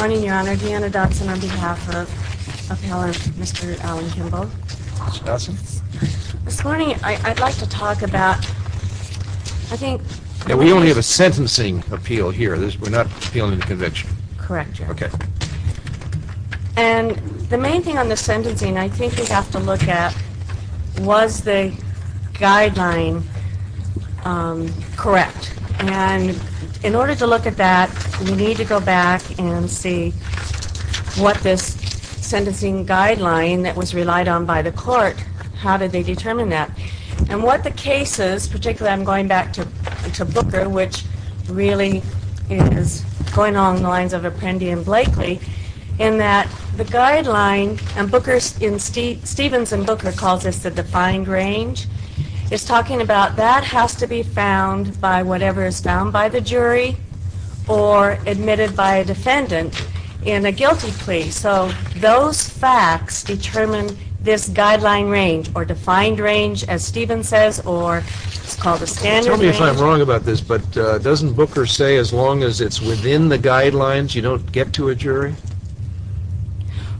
morning your honor Deanna Dotson on behalf of Mr. Allen Kimball. Ms. Dotson. This morning I'd like to talk about I think we only have a sentencing appeal here this we're not feeling the convention correct okay and the main thing on the sentencing I think you have to look at was the guideline correct and in order to look at that we need to go back and see what this sentencing guideline that was relied on by the court how did they determine that and what the cases particularly I'm going back to to Booker which really is going along the lines of Apprendi and Blakely in that the guideline and Booker's in Steve Stevens and Booker calls this the defined range is talking about that has to be found by whatever is found by the jury or admitted by a defendant in a guilty plea so those facts determine this guideline range or defined range as Steven says or it's called the standard range. Tell me if I'm wrong about this but doesn't Booker say as long as it's within the guidelines you don't get to a jury?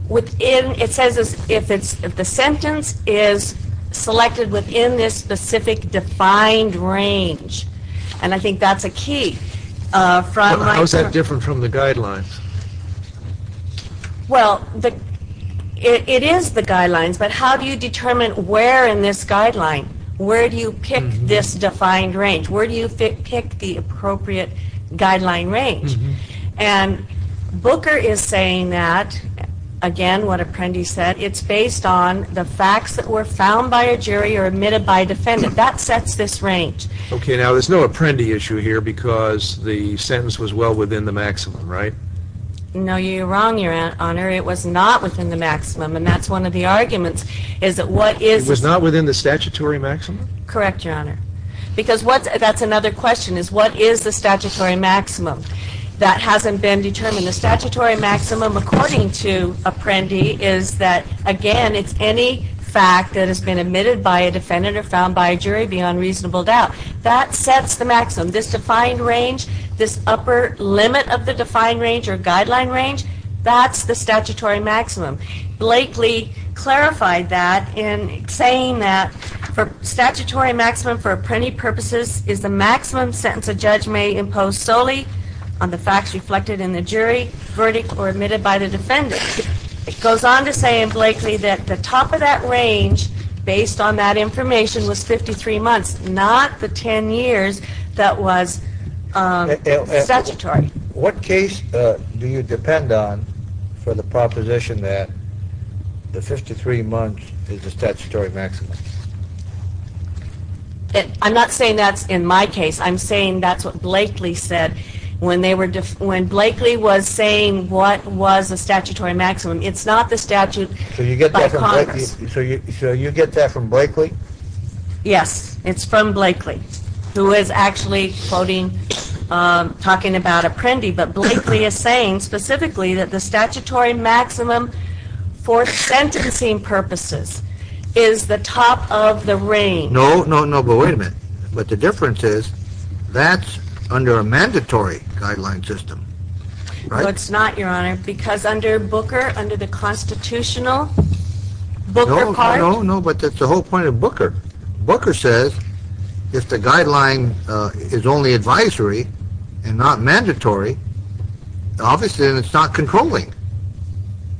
Within it says if it's if the sentence is selected within this specific defined range and I think that's a key. How is that different from the guidelines? Well it is the guidelines but how do you determine where in this guideline where do you pick this defined range where do you pick the appropriate guideline range and Booker is saying that again what Apprendi said it's based on the facts that were found by a jury or admitted by defendant that sets this range. Okay now there's no Apprendi issue here because the sentence was well within the maximum right? No you're wrong your honor it was not within the maximum and that's one of the arguments is that what is. It was not within the statutory maximum? Correct your honor because what that's another question is what is the statutory maximum that hasn't been determined. The statutory maximum according to Apprendi is that again it's any fact that has been admitted by a defendant or found by a jury beyond reasonable doubt that sets the maximum. This defined range this upper limit of the defined range or guideline range that's the statutory maximum. Blakely clarified that in saying that for statutory maximum for Apprendi purposes is the maximum sentence a judge may impose solely on the facts reflected in the jury verdict or admitted by the defendant. It goes on to say in Blakely that the top of that range based on that information was 53 months not the 10 years that was statutory. What case do you depend on for the proposition that the 53 months is the statutory maximum? I'm not saying that's in my case I'm saying that's what Blakely said when they were when Blakely was saying what was the statutory maximum it's not the statute by Congress. So you get that from Blakely? Yes it's from Blakely who is actually quoting talking about Apprendi but Blakely is saying specifically that the statutory maximum for sentencing purposes is the top of the range. No no no but wait a minute but the difference is that's under a mandatory guideline system. It's not your honor because under Booker under the constitutional Booker part. No no but that's the whole point of Booker. Booker says if the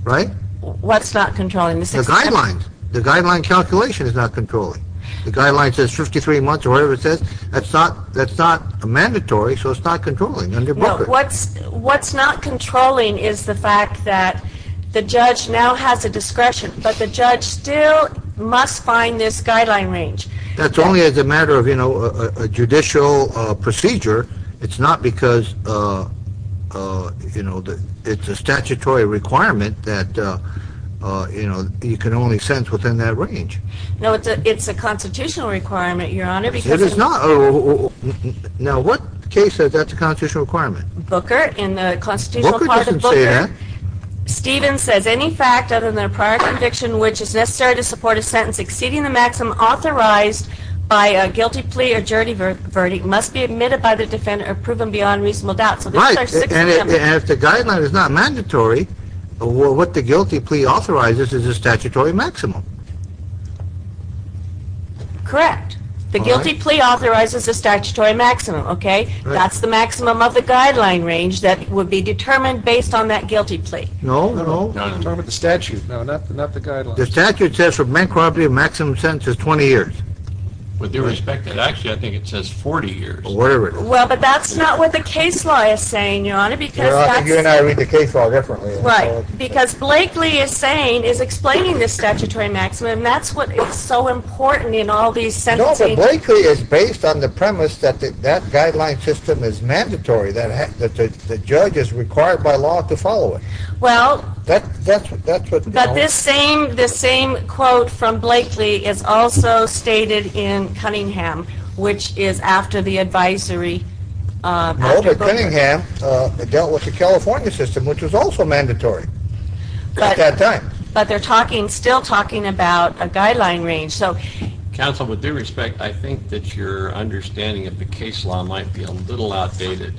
Right? What's not controlling? The guidelines. The guideline calculation is not controlling. The guideline says 53 months or whatever it says that's not that's not a mandatory so it's not controlling under Booker. What's what's not controlling is the fact that the judge now has a discretion but the judge still must find this guideline range. That's only as a matter of you know a judicial procedure it's not because you know that it's a statutory requirement that you know you can only sentence within that range. No it's a constitutional requirement your honor. It is not. Now what case says that's a constitutional requirement? Booker in the constitutional part of Booker. Booker doesn't say that. Stevens says any fact other than a prior conviction which is necessary to support a sentence exceeding the maximum authorized by a guilty plea or jury verdict must be admitted by the defendant or proven beyond reasonable doubt. Right and if the guideline is not mandatory what the guilty plea authorizes is a statutory maximum. Correct. The guilty plea authorizes a statutory maximum. Okay that's the maximum of the guideline range that would be determined based on that guilty plea. No no. I'm talking about the statute not the guideline. The statute says for man property a maximum sentence is 20 years. With due respect it actually I think it says 40 years. Well but that's not what the case law is saying your honor because. Your honor you and I read the case law differently. Right because Blakely is saying is explaining this statutory maximum that's what it's so important in all these sentencing. No but Blakely is based on the premise that that guideline system is mandatory that the judge is required by law to follow it. Well. That's what But this same this same quote from Blakely is also stated in Cunningham which is after the advisory. No but Cunningham dealt with the California system which was also mandatory at that time. But they're talking still talking about a guideline range so. Counsel with due respect I think that your understanding of the case law might be a little outdated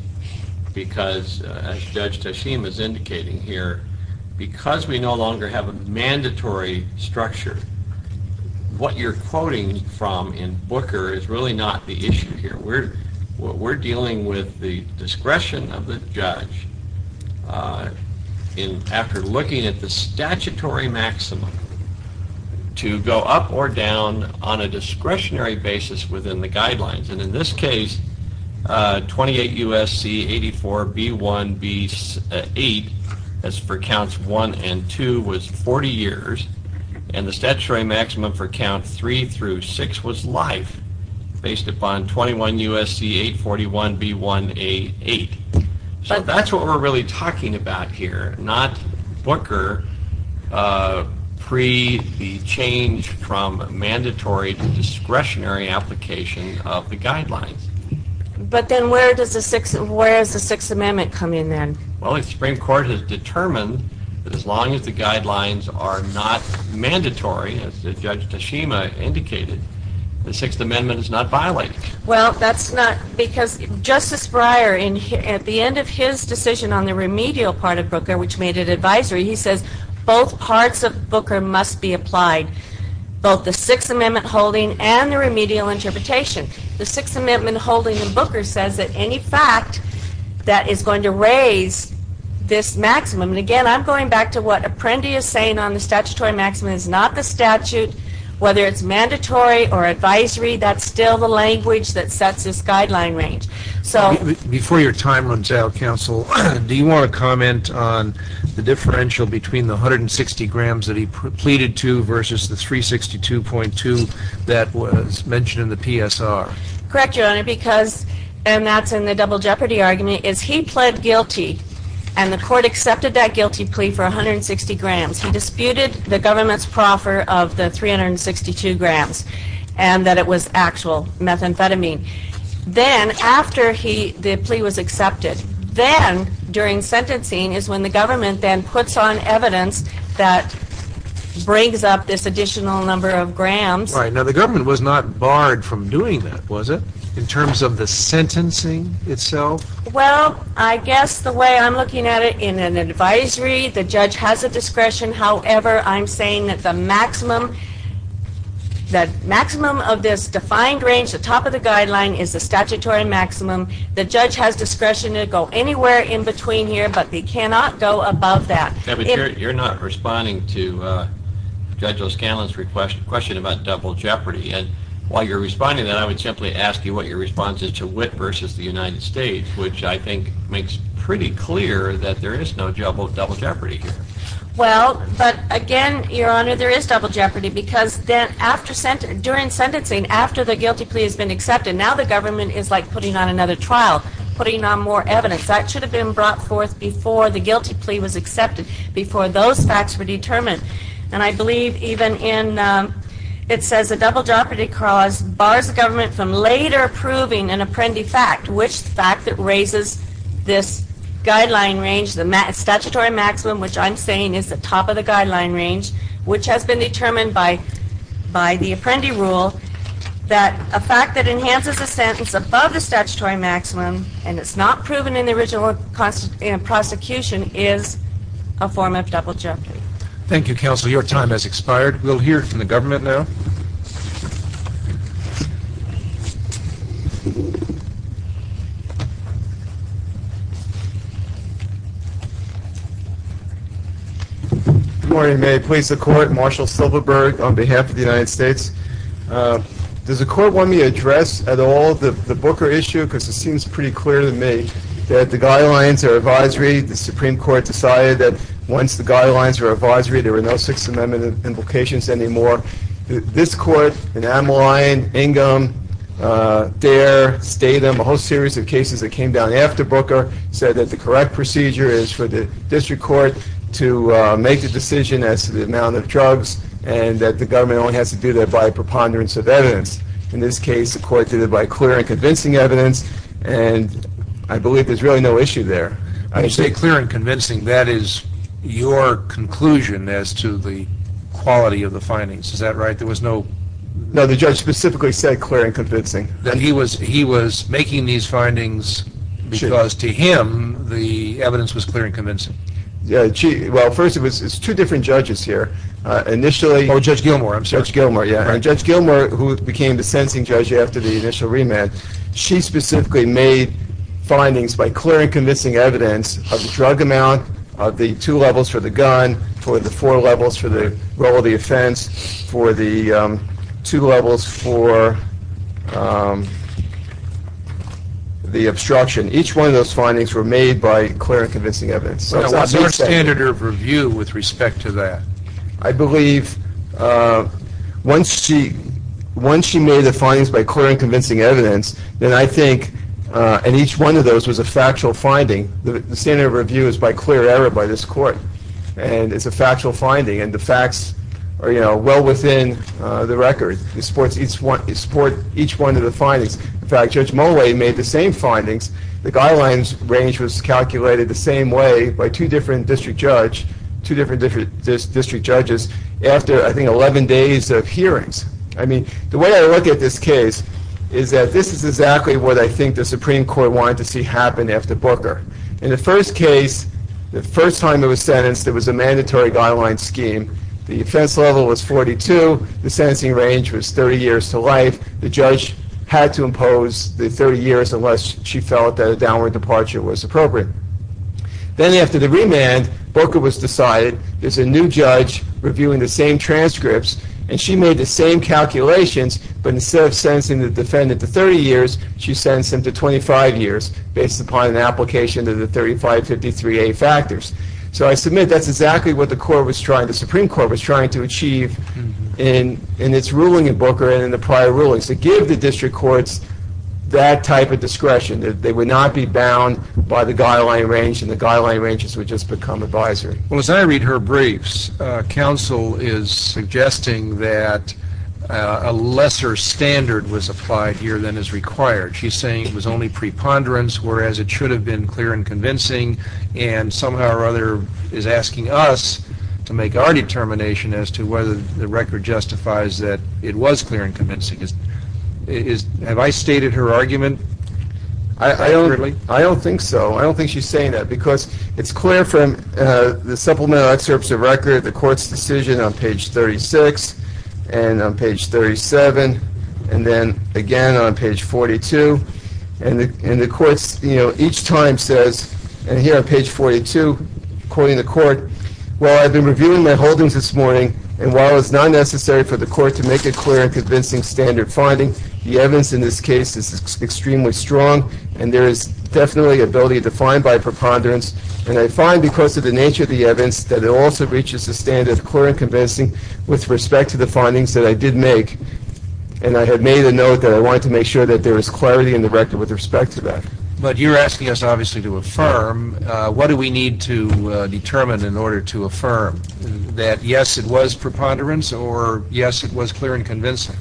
because as Judge Teshim is indicating here because we no longer have a mandatory structure what you're quoting from in Booker is really not the issue here. We're what we're dealing with the discretion of the judge in after looking at the statutory maximum to go up or down on a discretionary basis within the guidelines and in this case 28 USC 84 B 1 B 8 as for counts 1 and 2 was 40 years and the statutory maximum for count 3 through 6 was life based upon 21 USC 841 B 1 A 8. So that's what we're really talking about here not Booker pre the change from mandatory to discretionary application of the guidelines. But then where does the six amendment come in then? Well the Supreme Court has determined that as long as the guidelines are not mandatory as Judge Teshim indicated the Sixth Amendment is not violated. Well that's not because Justice Breyer in here at the end of his decision on the remedial part of Booker which made it advisory he says both parts of Booker must be applied both the Sixth Amendment holding and the remedial interpretation. The Sixth Amendment holding in Booker says that any fact that is going to raise this maximum and again I'm going back to what Apprendi is saying on the statutory maximum is not the statute whether it's mandatory or advisory that's still the language that sets this guideline range. So before your time runs out counsel do you want to comment on the differential between the 160 grams that he pleaded to versus the 362.2 that was mentioned in PSR. Correct your honor because and that's in the double jeopardy argument is he pled guilty and the court accepted that guilty plea for 160 grams. He disputed the government's proffer of the 362 grams and that it was actual methamphetamine. Then after he the plea was accepted then during sentencing is when the government then puts on evidence that brings up this additional number of grams. Now the government was not barred from doing that was it in terms of the sentencing itself? Well I guess the way I'm looking at it in an advisory the judge has a discretion however I'm saying that the maximum that maximum of this defined range the top of the guideline is the statutory maximum the judge has discretion to go anywhere in between here but they cannot go above that. You're not responding to Judge O'Scanlan's request question about double jeopardy and while you're responding that I would simply ask you what your response is to Witt versus the United States which I think makes pretty clear that there is no double jeopardy here. Well but again your honor there is double jeopardy because then after sent during sentencing after the guilty plea has been accepted now the government is like putting on another trial putting on more evidence that should have been brought forth before the guilty plea was accepted before those facts were determined and I believe even in it says a double jeopardy clause bars the government from later approving an apprendi fact which fact that raises this guideline range the statutory maximum which I'm saying is the top of the guideline range which has been determined by by the apprendi rule that a fact that enhances a sentence above the statutory maximum and it's not proven in the original cost in a form of double jeopardy. Thank you counsel your time has expired we'll hear from the government now. Good morning may I please the court Marshall Silverberg on behalf of the United States. Does the court want me to address at all the the Booker issue because it seems pretty clear to me that the guidelines or advisory the Supreme Court decided that once the guidelines were advisory there were no Sixth Amendment implications anymore. This court and Adam Lyon, Ingham, Dare, Statham a whole series of cases that came down after Booker said that the correct procedure is for the district court to make the decision as to the amount of drugs and that the government only has to do that by a preponderance of evidence. In this case the court did it by clear and convincing evidence and I clear and convincing that is your conclusion as to the quality of the findings is that right there was no. No the judge specifically said clear and convincing. That he was he was making these findings because to him the evidence was clear and convincing. Yeah well first it was two different judges here initially. Oh Judge Gilmour. Judge Gilmour yeah Judge Gilmour who became the sentencing judge after the initial remand she specifically made findings by clear and convincing evidence of the drug amount of the two levels for the gun, for the four levels for the role of the offense, for the two levels for the obstruction. Each one of those findings were made by clear and convincing evidence. What's our standard of review with respect to that? I believe once she once she made the findings by clear and convincing evidence then I believe each one of those was a factual finding. The standard of review is by clear error by this court and it's a factual finding and the facts are you know well within the record. It supports each one it support each one of the findings. In fact Judge Mulway made the same findings. The guidelines range was calculated the same way by two different district judge two different different district judges after I think 11 days of hearings. I mean the way I look at this case is that this is exactly what I think the Supreme Court wanted to see happen after Booker. In the first case the first time it was sentenced there was a mandatory guideline scheme. The offense level was 42. The sentencing range was 30 years to life. The judge had to impose the 30 years unless she felt that a downward departure was appropriate. Then after the remand Booker was decided there's a new judge reviewing the same transcripts and she made the same calculations but instead of sentencing the defendant to 30 years she sentenced him to 25 years based upon an application of the 3553a factors. So I submit that's exactly what the court was trying the Supreme Court was trying to achieve in its ruling in Booker and in the prior rulings to give the district courts that type of discretion that they would not be bound by the guideline range and the guideline ranges would just become advisory. Well as I read her a lesser standard was applied here than is required. She's saying it was only preponderance whereas it should have been clear and convincing and somehow or other is asking us to make our determination as to whether the record justifies that it was clear and convincing. Have I stated her argument? I don't really. I don't think so. I don't think she's saying that because it's clear from the supplemental excerpts of record the court's decision on page 36 and on page 37 and then again on page 42 and in the courts you know each time says and here on page 42 according to court well I've been reviewing my holdings this morning and while it's not necessary for the court to make it clear and convincing standard finding the evidence in this case is extremely strong and there is definitely ability to find by preponderance and I find because of the nature of the evidence that it also reaches the standard clear convincing with respect to the findings that I did make and I had made a note that I wanted to make sure that there is clarity in the record with respect to that. But you're asking us obviously to affirm what do we need to determine in order to affirm that yes it was preponderance or yes it was clear and convincing.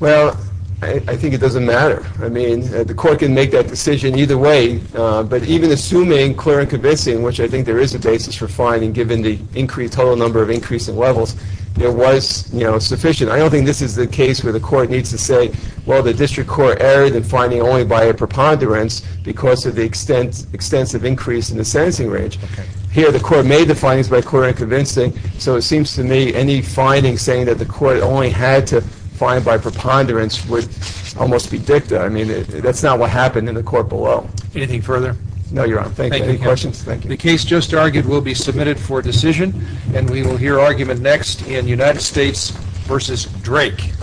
Well I think it doesn't matter I mean the court can make that decision either way but even assuming clear and convincing which I think there is a basis for finding given the increased total number of increasing levels there was you know sufficient I don't think this is the case where the court needs to say well the district court erred in finding only by a preponderance because of the extent extensive increase in the sentencing range. Here the court made the findings by clear and convincing so it seems to me any finding saying that the court only had to find by preponderance would almost be dicta I mean that's not what happened in the court below. Anything argued will be submitted for decision and we will hear argument next in United States versus Drake.